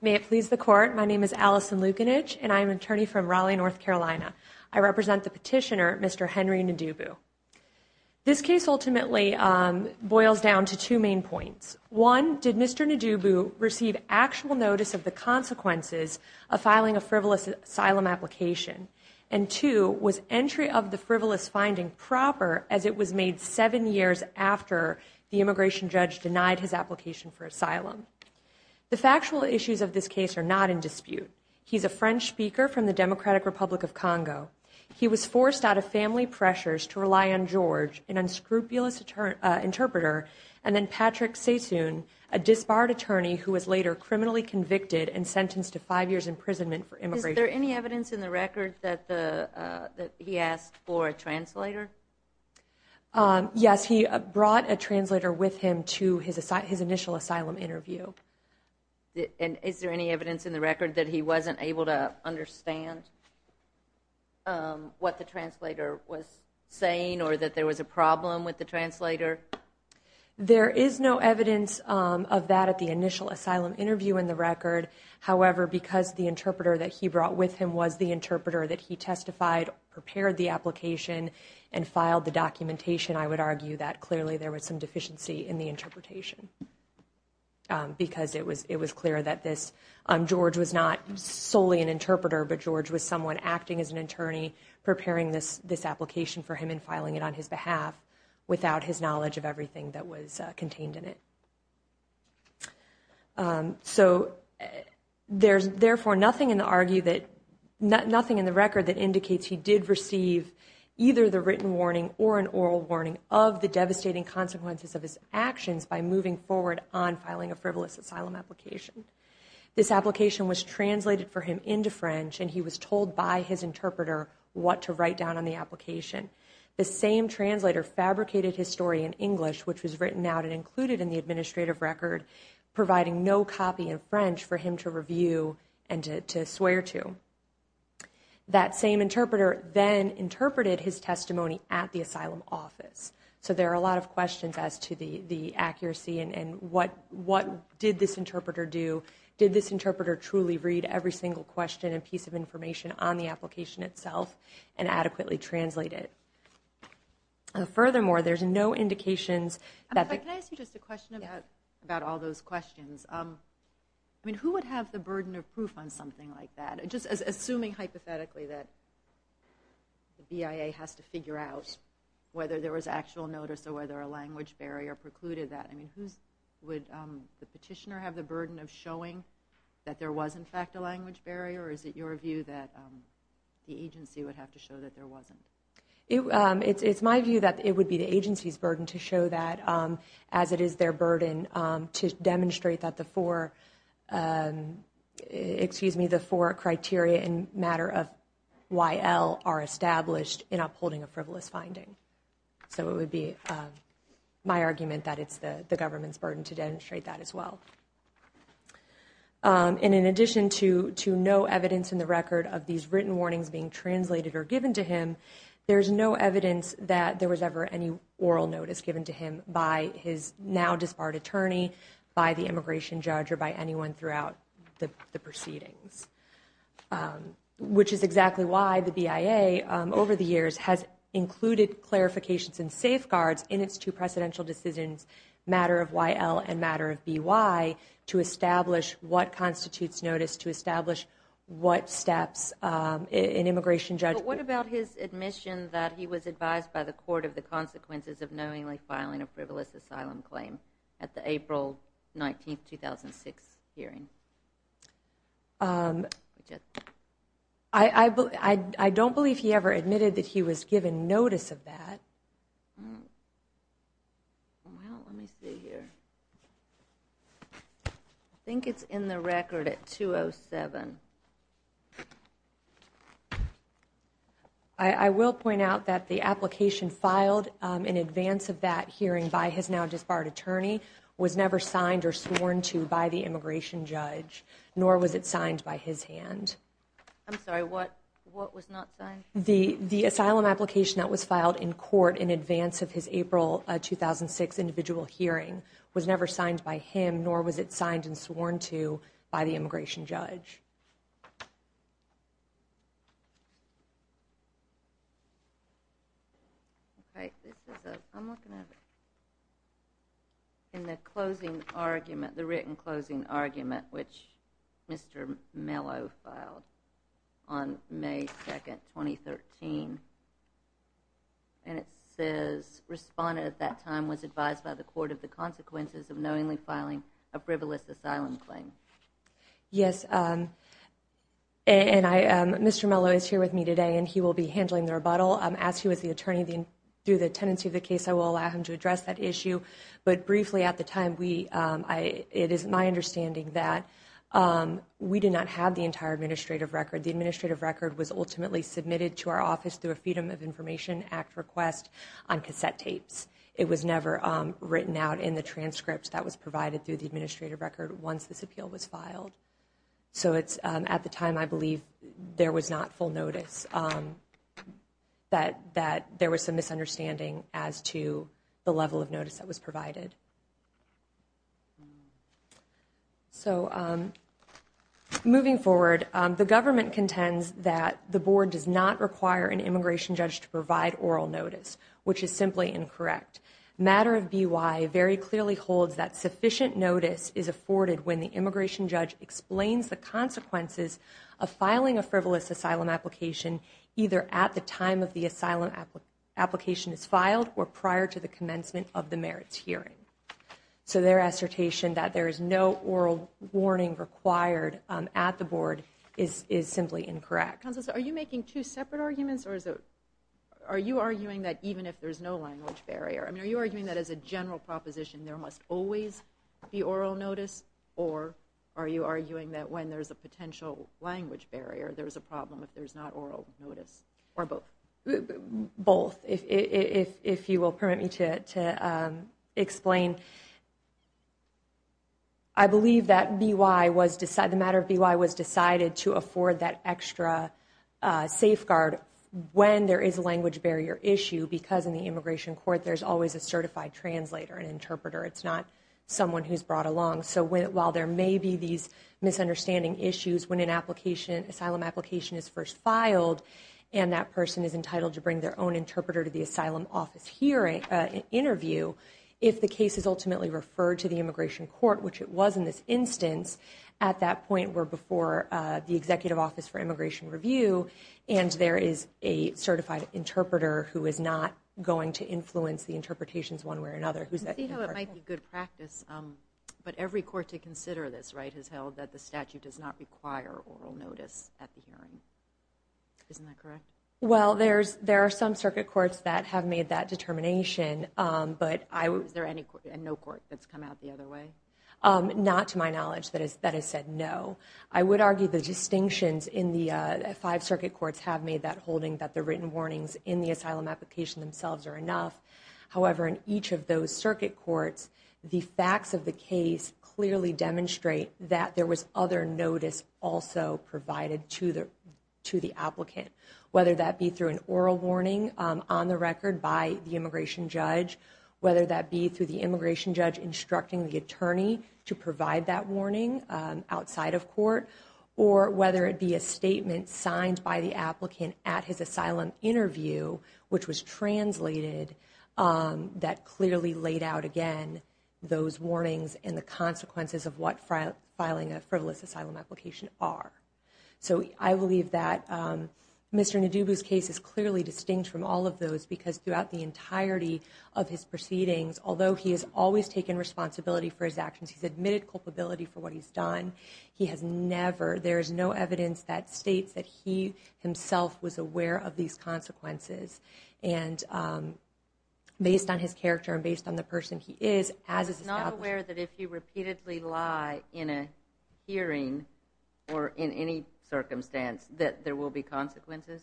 May it please the court, my name is Allison Lukinich, and I'm an attorney from Raleigh, North Carolina. I represent the petitioner, Mr. Henry Ndibu. This case ultimately boils down to two main points. One, did Mr. Ndibu receive actual notice of the consequences of filing a frivolous asylum application? And two, was entry of the frivolous finding proper, as it was made seven years after the immigration judge denied his application for asylum? The factual issues of this case are not in dispute. He's a French speaker from the Democratic Republic of Congo. He was forced out of family pressures to rely on George, an unscrupulous interpreter, and then Patrick Satoun, a disbarred attorney who was later criminally convicted and sentenced to five years imprisonment for immigration. Is there any evidence in the record that he asked for a translator? Yes, he brought a translator with him to his initial asylum interview. And is there any evidence in the record that he wasn't able to understand what the translator was saying or that there was a problem with the translator? There is no evidence of that at the initial asylum interview in the record. However, because the interpreter that he brought with him was the interpreter that he testified, prepared the application, and filed the documentation, I would argue that clearly there was some deficiency in the interpretation. Because it was clear that George was not solely an interpreter, but George was someone acting as an attorney, preparing this application for him and filing it on his behalf without his knowledge of everything that was contained in it. So, there's therefore nothing in the record that indicates he did receive either the written warning or an oral warning of the devastating consequences of his actions by moving forward on filing a frivolous asylum application. This application was translated for him into French, and he was told by his interpreter what to write down on the application. The same translator fabricated his story in English, which was written out and included in the administrative record, providing no copy in French for him to review and to swear to. That same interpreter then interpreted his testimony at the asylum office. So, there are a lot of questions as to the accuracy and what did this interpreter do. Did this interpreter truly read every single question and piece of information on the application itself and adequately translate it? Furthermore, there's no indications that... Can I ask you just a question about all those questions? I mean, who would have the burden of proof on something like that? Just assuming hypothetically that the BIA has to figure out whether there was actual notice or whether a language barrier precluded that. I mean, would the petitioner have the burden of showing that there was in fact a language barrier, or is it your view that the agency would have to show that there wasn't? It's my view that it would be the agency's burden to show that, as it is their burden to demonstrate that the four criteria in matter of YL are established in upholding a frivolous finding. So, it would be my argument that it's the government's burden to demonstrate that as well. And in addition to no evidence in the record of these written warnings being translated or given to him, there's no evidence that there was ever any oral notice given to him by his now disbarred attorney, by the immigration judge, or by anyone throughout the proceedings, which is exactly why the BIA over the years has included clarifications and safeguards in its two precedential decisions, matter of YL and matter of BY, to establish what constitutes notice, to establish what steps an immigration judge... But what about his admission that he was advised by the court of the consequences of knowingly filing a frivolous asylum claim at the April 19, 2006 hearing? I don't believe he ever admitted that he was given notice of that. Well, let me see here. I think it's in the record at 207. I will point out that the application filed in advance of that hearing by his now disbarred attorney was never signed or sworn to by the immigration judge, nor was it signed by his hand. I'm sorry, what was not signed? The asylum application that was filed in court in advance of his April 2006 individual hearing was never signed by him, nor was it signed and sworn to by the immigration judge. In the closing argument, the written closing argument, which Mr. Mello filed on May 2, 2013, and it says, respondent at that time was advised by the court of the consequences of knowingly filing a frivolous asylum claim. Yes, and Mr. Mello is here with me today, and he will be handling the rebuttal. As he was the attorney, through the tenancy of the case, I will allow him to address that issue. But briefly, at the time, it is my understanding that we did not have the entire administrative record. The administrative record was ultimately submitted to our office through a Freedom of Information Act request on cassette tapes. It was never written out in the transcript that was provided through the administrative record once this appeal was filed. So at the time, I believe there was not full notice, that there was some misunderstanding as to the level of notice that was provided. So moving forward, the government contends that the board does not require an immigration judge to provide oral notice, which is simply incorrect. Matter of BY very clearly holds that sufficient notice is afforded when the immigration judge explains the consequences of filing a frivolous asylum application either at the time of the asylum application is filed or prior to the commencement of the merits hearing. So their assertion that there is no oral warning required at the board is simply incorrect. Are you making two separate arguments or are you arguing that even if there is no language barrier, are you arguing that as a general proposition there must always be oral notice or are you arguing that when there is a potential language barrier, there is a problem if there is not oral notice? Or both? Both, if you will permit me to explain. I believe that the matter of BY was decided to afford that extra safeguard when there is a language barrier issue because in the immigration court, there's always a certified translator and interpreter. It's not someone who's brought along. So while there may be these misunderstanding issues when an asylum application is first filed, and that person is entitled to bring their own interpreter to the asylum office for an interview, if the case is ultimately referred to the immigration court, which it was in this instance, at that point we're before the Executive Office for Immigration Review and there is a certified interpreter who is not going to influence the interpretations one way or another. You see how it might be good practice, but every court to consider this, right, isn't that correct? Well, there are some circuit courts that have made that determination, but I would... Is there a no court that's come out the other way? Not to my knowledge that has said no. I would argue the distinctions in the five circuit courts have made that holding that the written warnings in the asylum application themselves are enough. However, in each of those circuit courts, the facts of the case clearly demonstrate that there was other notice also provided to the applicant, whether that be through an oral warning on the record by the immigration judge, whether that be through the immigration judge instructing the attorney to provide that warning outside of court, or whether it be a statement signed by the applicant at his asylum interview, which was translated, that clearly laid out again those warnings and the consequences of what filing a frivolous asylum application are. So I believe that Mr. Ndubu's case is clearly distinct from all of those because throughout the entirety of his proceedings, although he has always taken responsibility for his actions, he's admitted culpability for what he's done, he has never... There is no evidence that states that he himself was aware of these consequences and based on his character and based on the person he is, as established... Are you aware that if you repeatedly lie in a hearing or in any circumstance that there will be consequences?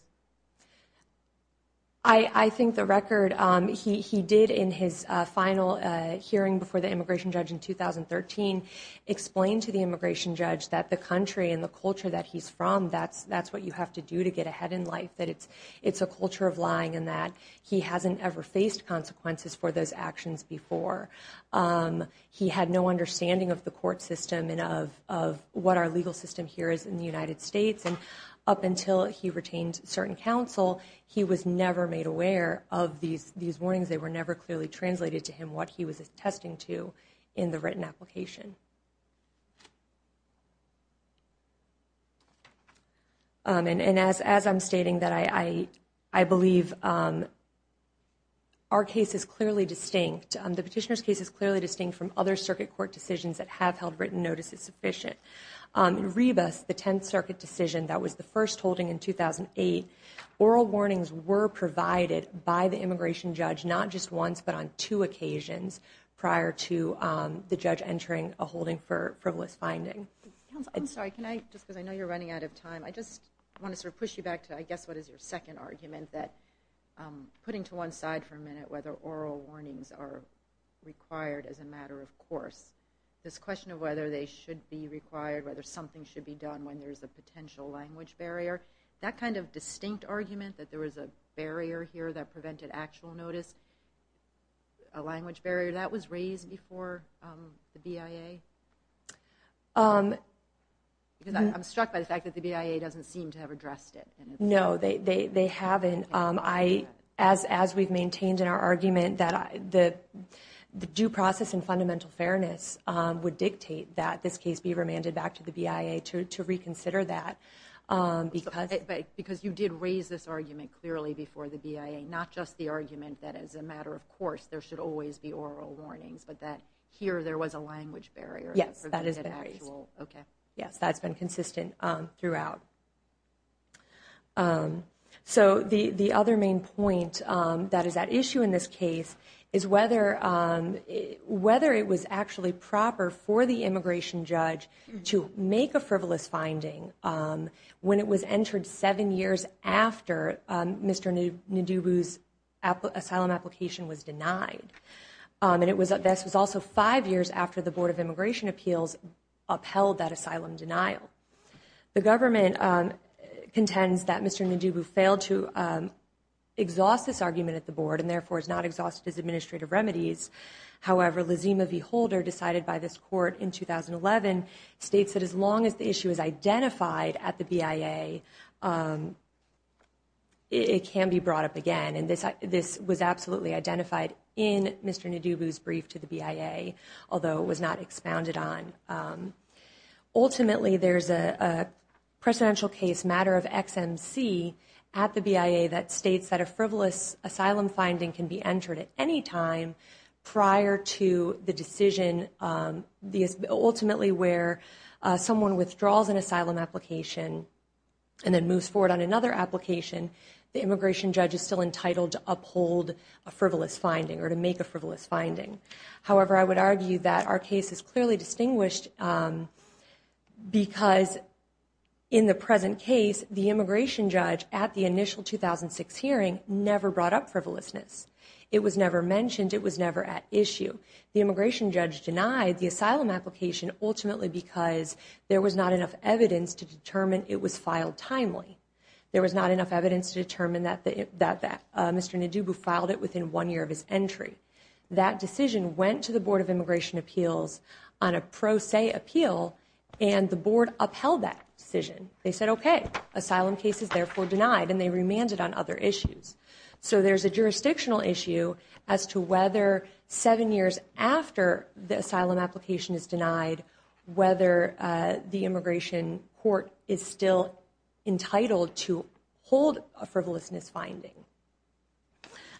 I think the record he did in his final hearing before the immigration judge in 2013 explained to the immigration judge that the country and the culture that he's from, that's what you have to do to get ahead in life, that it's a culture of lying and that he hasn't ever faced consequences for those actions before. He had no understanding of the court system and of what our legal system here is in the United States, and up until he retained certain counsel, he was never made aware of these warnings. They were never clearly translated to him what he was attesting to in the written application. And as I'm stating, I believe our case is clearly distinct. The petitioner's case is clearly distinct from other circuit court decisions that have held written notices sufficient. In Rebus, the 10th Circuit decision that was the first holding in 2008, oral warnings were provided by the immigration judge not just once but on two occasions prior to the judge entering a holding for frivolous finding. I'm sorry, just because I know you're running out of time, I just want to sort of push you back to I guess what is your second argument that putting to one side for a minute whether oral warnings are required as a matter of course, this question of whether they should be required, whether something should be done when there's a potential language barrier, that kind of distinct argument that there was a barrier here that prevented actual notice, a language barrier, that was raised before the BIA? Because I'm struck by the fact that the BIA doesn't seem to have addressed it. No, they haven't. As we've maintained in our argument, the due process and fundamental fairness would dictate that this case be remanded back to the BIA to reconsider that. Because you did raise this argument clearly before the BIA, not just the argument that as a matter of course there should always be oral warnings but that here there was a language barrier. Yes, that has been raised. Yes, that's been consistent throughout. So the other main point that is at issue in this case is whether it was actually proper for the immigration judge to make a frivolous finding when it was entered seven years after Mr. Ndubu's asylum application was denied. And this was also five years after the Board of Immigration Appeals upheld that asylum denial. The government contends that Mr. Ndubu failed to exhaust this argument at the board and therefore is not exhausted his administrative remedies. However, Lizima V. Holder, decided by this court in 2011, states that as long as the issue is identified at the BIA, it can be brought up again. And this was absolutely identified in Mr. Ndubu's brief to the BIA, although it was not expounded on. Ultimately, there's a presidential case matter of XMC at the BIA that states that a frivolous asylum finding can be entered at any time prior to the decision. Ultimately where someone withdraws an asylum application and then moves forward on another application, the immigration judge is still entitled to uphold a frivolous finding or to make a frivolous finding. However, I would argue that our case is clearly distinguished because in the present case, the immigration judge at the initial 2006 hearing never brought up frivolousness. It was never mentioned. It was never at issue. The immigration judge denied the asylum application ultimately because there was not enough evidence to determine it was filed timely. There was not enough evidence to determine that Mr. Ndubu filed it within one year of his entry. That decision went to the Board of Immigration Appeals on a pro se appeal and the Board upheld that decision. They said, okay, asylum case is therefore denied and they remanded on other issues. So there's a jurisdictional issue as to whether seven years after the asylum application is denied, whether the immigration court is still entitled to hold a frivolousness finding.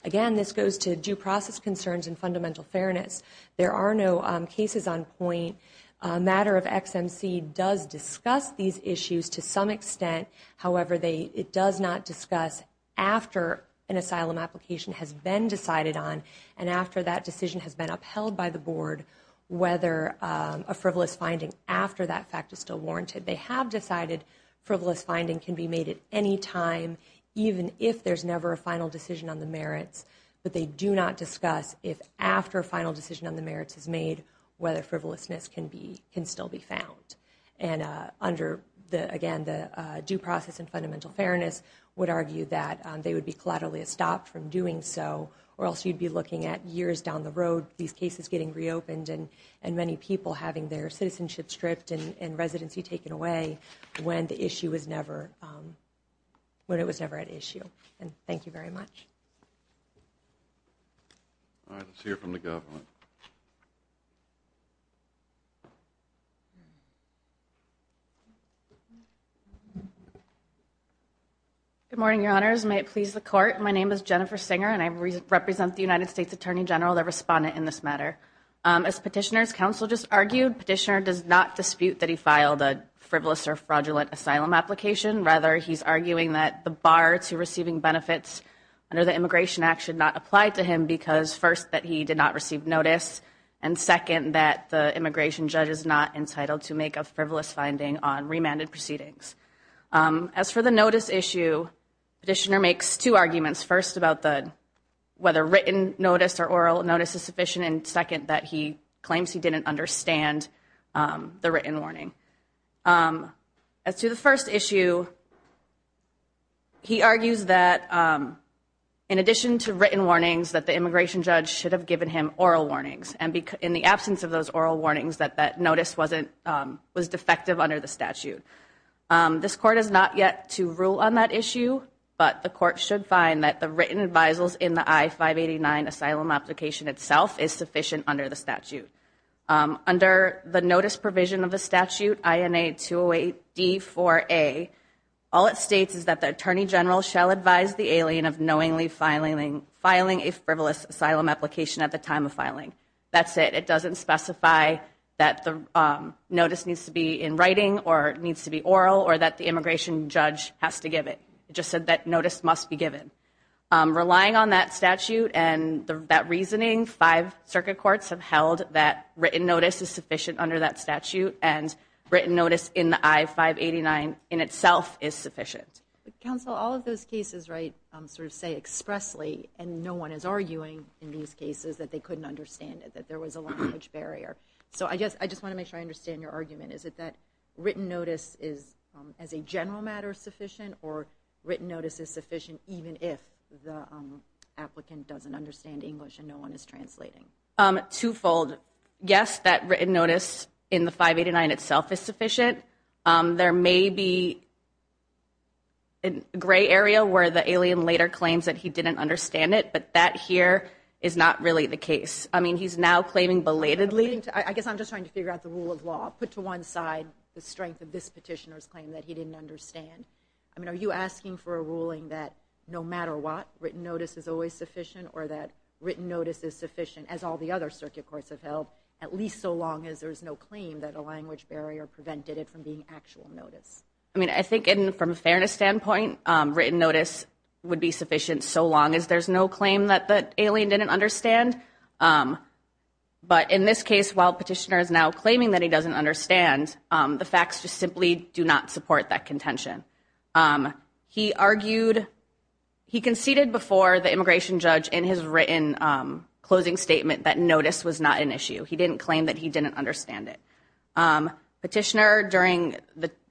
Again, this goes to due process concerns and fundamental fairness. There are no cases on point. A matter of XMC does discuss these issues to some extent. However, it does not discuss after an asylum application has been decided on and after that decision has been upheld by the Board whether a frivolous finding after that fact is still warranted. They have decided frivolous finding can be made at any time even if there's never a final decision on the merits, but they do not discuss if after a final decision on the merits is made whether frivolousness can still be found. And under, again, the due process and fundamental fairness would argue that they would be collaterally stopped from doing so or else you'd be looking at years down the road, these cases getting reopened and many people having their citizenship stripped and residency taken away when the issue was never at issue. And thank you very much. All right. Let's hear from the government. Good morning, Your Honors. May it please the Court. My name is Jennifer Singer and I represent the United States Attorney General, the respondent in this matter. As Petitioner's counsel just argued, Petitioner does not dispute that he filed a frivolous or fraudulent asylum application. Rather, he's arguing that the bar to receiving benefits under the Immigration Act should not apply to him because first, that he did not receive notice, and second, that the immigration judge is not entitled to make a frivolous finding on remanded proceedings. As for the notice issue, Petitioner makes two arguments. First, about whether written notice or oral notice is sufficient, and second, that he claims he didn't understand the written warning. As to the first issue, he argues that in addition to written warnings, that the immigration judge should have given him oral warnings, and in the absence of those oral warnings, that that notice was defective under the statute. This Court has not yet to rule on that issue, but the Court should find that the written advisals in the I-589 asylum application itself is sufficient under the statute. Under the notice provision of the statute, INA 208-D4A, all it states is that the Attorney General shall advise the alien of knowingly filing a frivolous asylum application at the time of filing. That's it. It doesn't specify that the notice needs to be in writing or it needs to be oral or that the immigration judge has to give it. It just said that notice must be given. Relying on that statute and that reasoning, five circuit courts have held that written notice is sufficient under that statute, and written notice in the I-589 in itself is sufficient. Counsel, all of those cases sort of say expressly, and no one is arguing in these cases that they couldn't understand it, that there was a language barrier. So I just want to make sure I understand your argument. Is it that written notice is, as a general matter, sufficient or written notice is sufficient even if the applicant doesn't understand English and no one is translating? Twofold. Yes, that written notice in the 589 itself is sufficient. There may be a gray area where the alien later claims that he didn't understand it, but that here is not really the case. I mean, he's now claiming belatedly. I guess I'm just trying to figure out the rule of law. Put to one side the strength of this petitioner's claim that he didn't understand. I mean, are you asking for a ruling that no matter what, written notice is always sufficient or that written notice is sufficient as all the other circuit courts have held, at least so long as there's no claim that a language barrier prevented it from being actual notice? I mean, I think from a fairness standpoint, written notice would be sufficient so long as there's no claim that the alien didn't understand. But in this case, while petitioner is now claiming that he doesn't understand, the facts just simply do not support that contention. He argued, he conceded before the immigration judge in his written closing statement that notice was not an issue. He didn't claim that he didn't understand it. Petitioner, during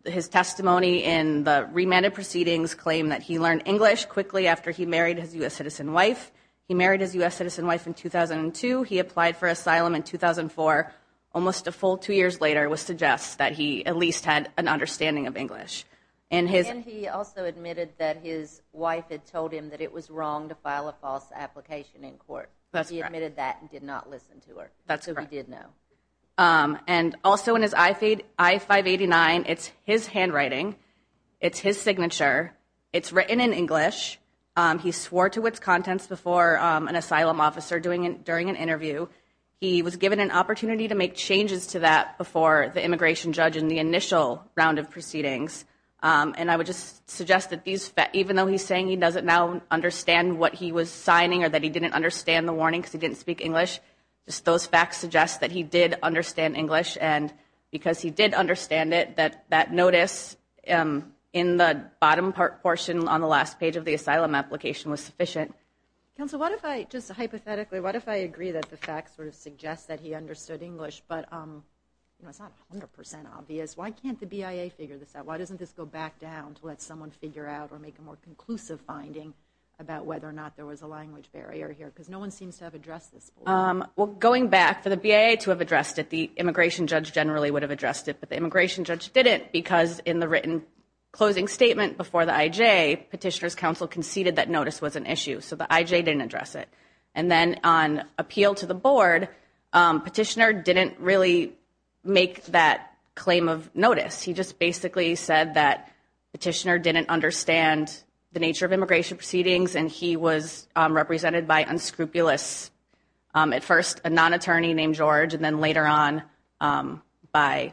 his testimony in the remanded proceedings, claimed that he learned English quickly after he married his U.S. citizen wife. He married his U.S. citizen wife in 2002. He applied for asylum in 2004. Almost a full two years later, it was suggested that he at least had an understanding of English. And he also admitted that his wife had told him that it was wrong to file a false application in court. He admitted that and did not listen to her. That's correct. So he did know. And also in his I-589, it's his handwriting. It's his signature. It's written in English. He swore to its contents before an asylum officer during an interview. He was given an opportunity to make changes to that before the immigration judge in the initial round of proceedings. And I would just suggest that even though he's saying he doesn't now understand what he was signing or that he didn't understand the warning because he didn't speak English, just those facts suggest that he did understand English. And because he did understand it, that that notice in the bottom part portion on the last page of the asylum application was sufficient. Counsel, what if I just hypothetically, what if I agree that the facts sort of suggest that he understood English, but it's not 100% obvious. Why can't the BIA figure this out? Why doesn't this go back down to let someone figure out or make a more conclusive finding about whether or not there was a language barrier here? Because no one seems to have addressed this before. Well, going back, for the BIA to have addressed it, the immigration judge generally would have addressed it. But the immigration judge didn't because in the written closing statement before the IJ, Petitioner's Counsel conceded that notice was an issue. So the IJ didn't address it. And then on appeal to the board, Petitioner didn't really make that claim of notice. He just basically said that Petitioner didn't understand the nature of immigration proceedings and he was represented by unscrupulous, at first a non-attorney named George, and then later on by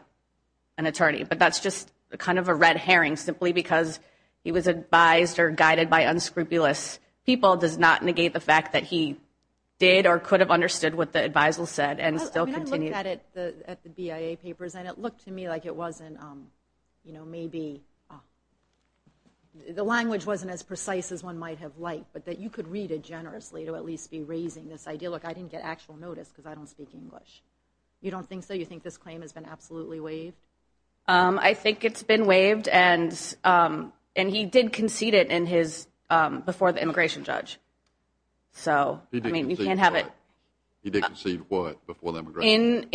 an attorney. But that's just kind of a red herring simply because he was advised or guided by unscrupulous people and the appeal does not negate the fact that he did or could have understood what the adviser said and still continued. I looked at the BIA papers and it looked to me like it wasn't, you know, maybe the language wasn't as precise as one might have liked, but that you could read it generously to at least be raising this idea, look, I didn't get actual notice because I don't speak English. You don't think so? You think this claim has been absolutely waived? I think it's been waived and he did concede it before the immigration judge. He did concede what? He did concede what before the immigration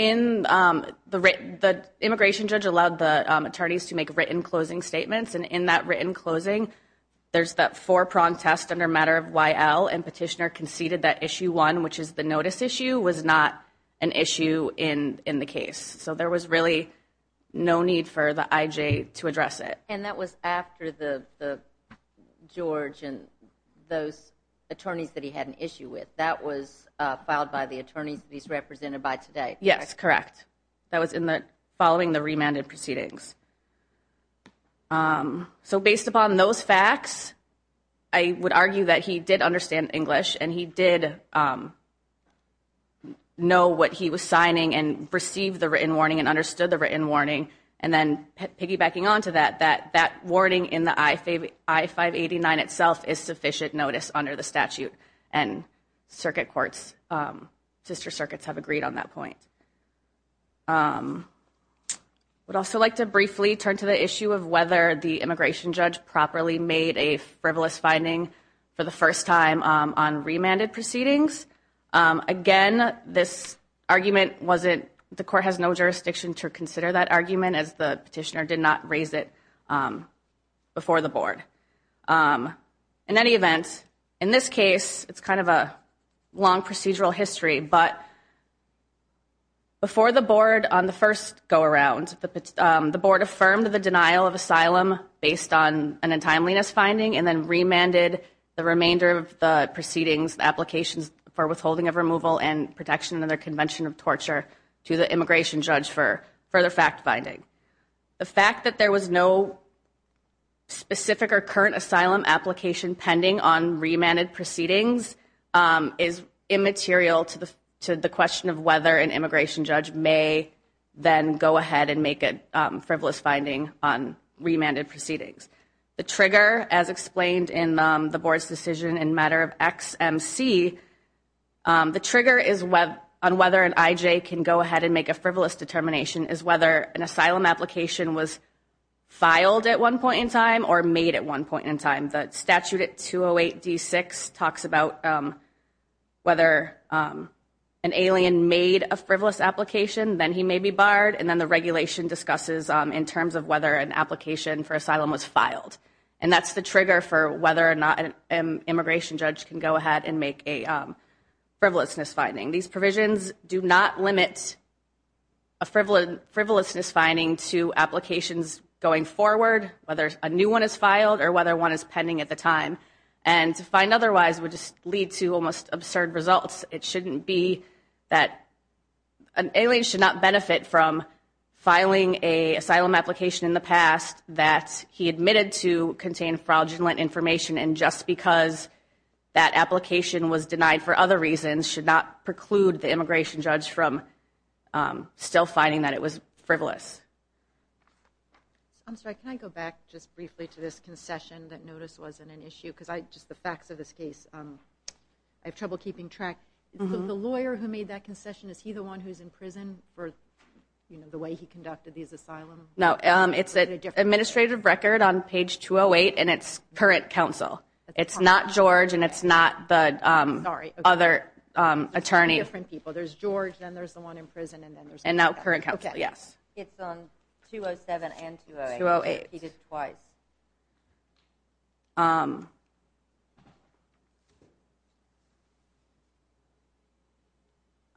judge? The immigration judge allowed the attorneys to make written closing statements and in that written closing there's that four prong test under matter of YL and Petitioner conceded that Issue 1, which is the notice issue, was not an issue in the case. So there was really no need for the IJ to address it. And that was after the George and those attorneys that he had an issue with. That was filed by the attorneys that he's represented by today? Yes, correct. That was following the remanded proceedings. So based upon those facts, I would argue that he did understand English and he did know what he was signing and received the written warning and understood the written warning and then piggybacking on to that that warning in the I-589 itself is sufficient notice under the statute and circuit courts, sister circuits have agreed on that point. I would also like to briefly turn to the issue of whether the immigration judge properly made a frivolous finding for the first time on remanded proceedings. Again, this argument the court has no jurisdiction to consider that argument as the petitioner did not raise it before the board. In any event, in this case, it's kind of a long procedural history, but before the board on the first go around, the board affirmed the denial of asylum based on an untimeliness finding and then remanded the remainder of the proceedings, applications for withholding of removal and protection under convention of torture to the immigration judge for the fact finding. The fact that there was no specific or current asylum application pending on remanded proceedings is immaterial to the question of whether an immigration judge may then go ahead and make a frivolous finding on remanded proceedings. The trigger, as explained in the board's decision in matter of XMC, the trigger on whether an IJ can go ahead and make a frivolous determination is whether an asylum application was filed at one point in time or made at one point in time. The statute at 208 D6 talks about whether an alien made a frivolous application, then he may be barred, and then the regulation discusses in terms of whether an application for asylum was filed. And that's the trigger for whether or not an immigration judge can go ahead and make a frivolousness finding. These provisions do not limit a frivolousness finding to applications going forward, whether a new one is filed or whether one is pending at the time. And to find otherwise would just lead to almost absurd results. It shouldn't be that an alien should not benefit from filing an asylum application in the past that he admitted to contain fraudulent information and just because that application was denied for other reasons should not preclude the immigration judge from still finding that it was frivolous. I'm sorry, can I go back just briefly to this concession that notice wasn't an issue? Because just the facts of this case I have trouble keeping track. The lawyer who made that concession, is he the one who's in prison for the way he conducted these asylums? No, it's an administrative record on page 208 and it's current counsel. It's not George and it's not the other attorney. There's George and there's the one in prison. And now current counsel, yes. It's on 207 and 208. He did it twice.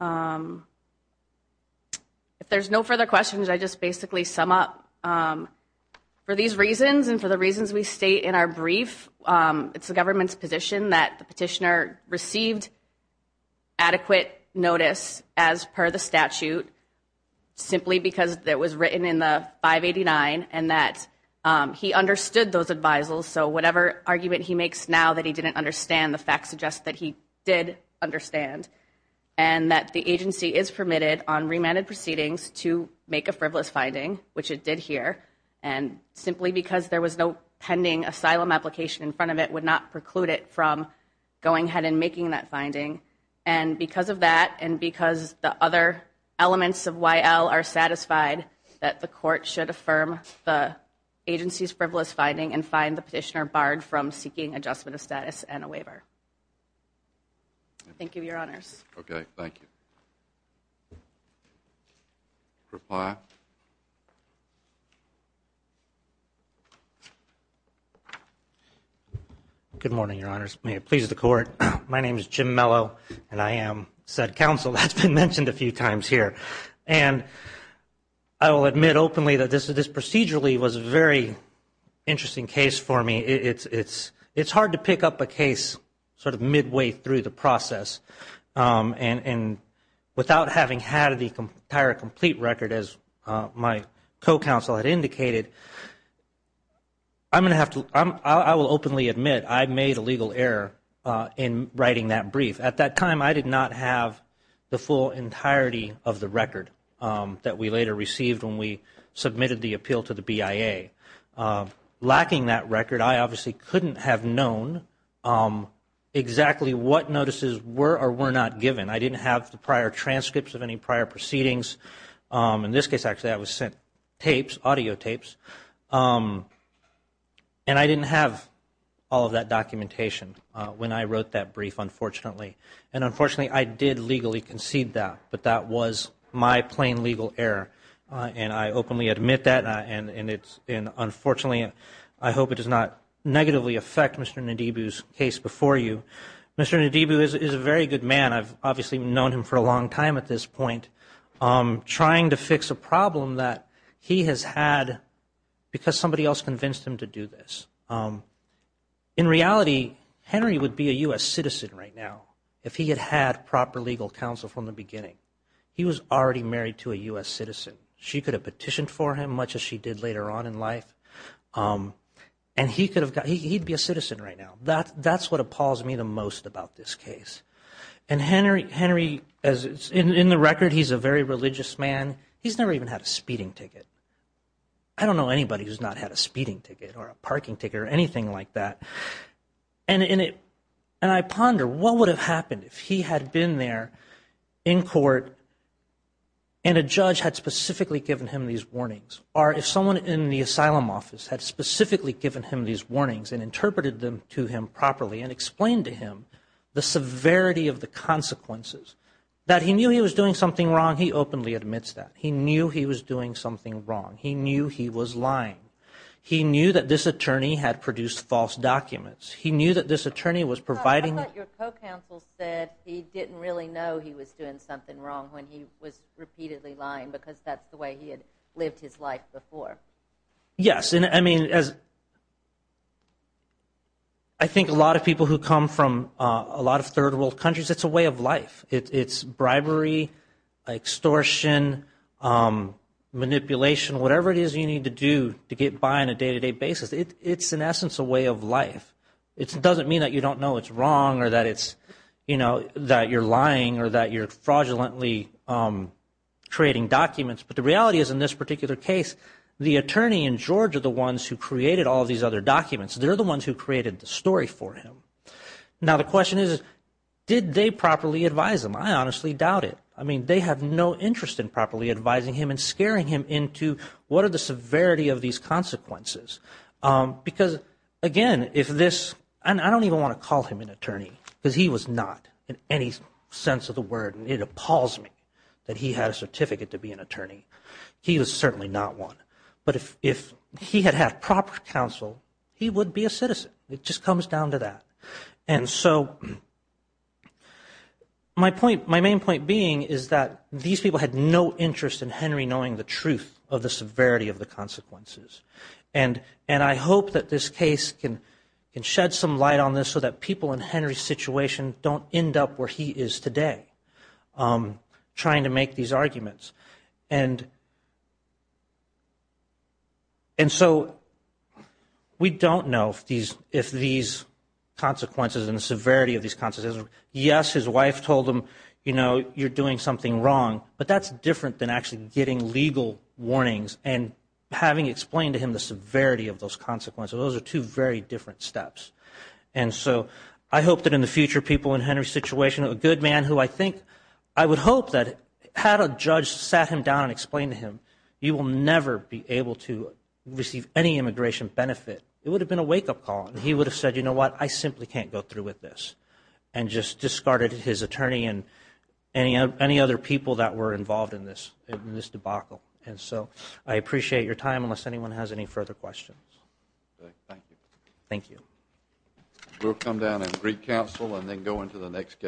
If there's no further questions I just want to basically sum up for these reasons and for the reasons we state in our brief, it's the government's position that the petitioner received adequate notice as per the statute simply because it was written in the 589 and that he understood those advisals so whatever argument he makes now that he didn't understand, the facts suggest that he did understand. And that the agency is permitted on the basis of a frivolous finding, which it did here and simply because there was no pending asylum application in front of it would not preclude it from going ahead and making that finding and because of that and because the other elements of YL are satisfied that the court should affirm the agency's frivolous finding and fine the petitioner barred from seeking adjustment of status and a waiver. Thank you, Your Honors. Okay, thank you. Reply. Good morning, Your Honors. May it please the court. My name is Jim Mello and I am said counsel that's been mentioned a few times here and I will admit openly that this procedurally was a very interesting case for me. It's hard to pick up a case sort of midway through the process and without having had the entire complete record as my co-counsel had indicated I'm going to have to I will openly admit I made a legal error in writing that brief. At that time I did not have the full entirety of the record that we later received when we submitted the appeal to the BIA. Lacking that record I obviously couldn't have known exactly what notices were or were not given. I didn't have the prior transcripts of any prior proceedings. In this case actually I was sent tapes, audio tapes and I didn't have all of that documentation when I wrote that brief unfortunately. And unfortunately I did legally concede that but that was my plain legal error and I openly admit that and unfortunately I hope it does not happen again. Mr. Nadibu is a very good man. I've obviously known him for a long time at this point. Trying to fix a problem that he has had because somebody else convinced him to do this. In reality Henry would be a U.S. citizen right now if he had had proper legal counsel from the beginning. He was already married to a U.S. citizen. She could have petitioned for him much as she did later on in life and he could have he'd be a citizen right now. That's what appalls me the most about this case. And Henry in the record he's a very religious man. He's never even had a speeding ticket. I don't know anybody who's not had a speeding ticket or a parking ticket or anything like that. And I ponder what would have happened if he had been there in court and a judge had specifically given him these warnings or if someone in the asylum office had specifically given him these warnings and interpreted them to him properly and explained to him the severity of the consequences. That he knew he was doing something wrong, he openly admits that. He knew he was doing something wrong. He knew he was lying. He knew that this attorney had produced false documents. He knew that this attorney was providing I thought your co-counsel said he didn't really know he was doing something wrong when he was repeatedly lying because that's the way he had lived his life before. Yes. I think a lot of people who come from a lot of third world countries, it's a way of life. It's bribery, extortion, manipulation, whatever it is you need to do to get by on a day to day basis. It's in essence a way of life. It doesn't mean that you don't know it's wrong or that you're lying or that you're fraudulently creating documents. The reality is in this particular case the attorney and George are the ones who created all these other documents. They're the ones who created the story for him. Now the question is did they properly advise him? I honestly doubt it. They have no interest in properly advising him and scaring him into what are the severity of these consequences. Again, if this and I don't even want to call him an attorney because he was not in any sense of the word. It appalls me that he had a certificate to be an attorney. He was certainly not one. But if he had had proper counsel, he would be a citizen. It just comes down to that. And so my point, my main point being is that these people had no interest in Henry knowing the truth of the severity of the consequences. And I hope that this case can shed some light on this so that people in Henry's situation don't end up where he is today. Trying to make these arguments. And so we don't know if these consequences and the severity of these consequences. Yes, his wife told him, you know, you're doing something wrong. But that's different than actually getting legal warnings and having explained to him the severity of those consequences. Those are two very different steps. I hope that in the future people in I would hope that had a judge sat him down and explained to him you will never be able to receive any immigration benefit. It would have been a wake-up call. He would have said, you know what, I simply can't go through with this. And just discarded his attorney and any other people that were involved in this debacle. And so I appreciate your time unless anyone has any further questions. Thank you. We'll come down and recounsel and then go into the next case.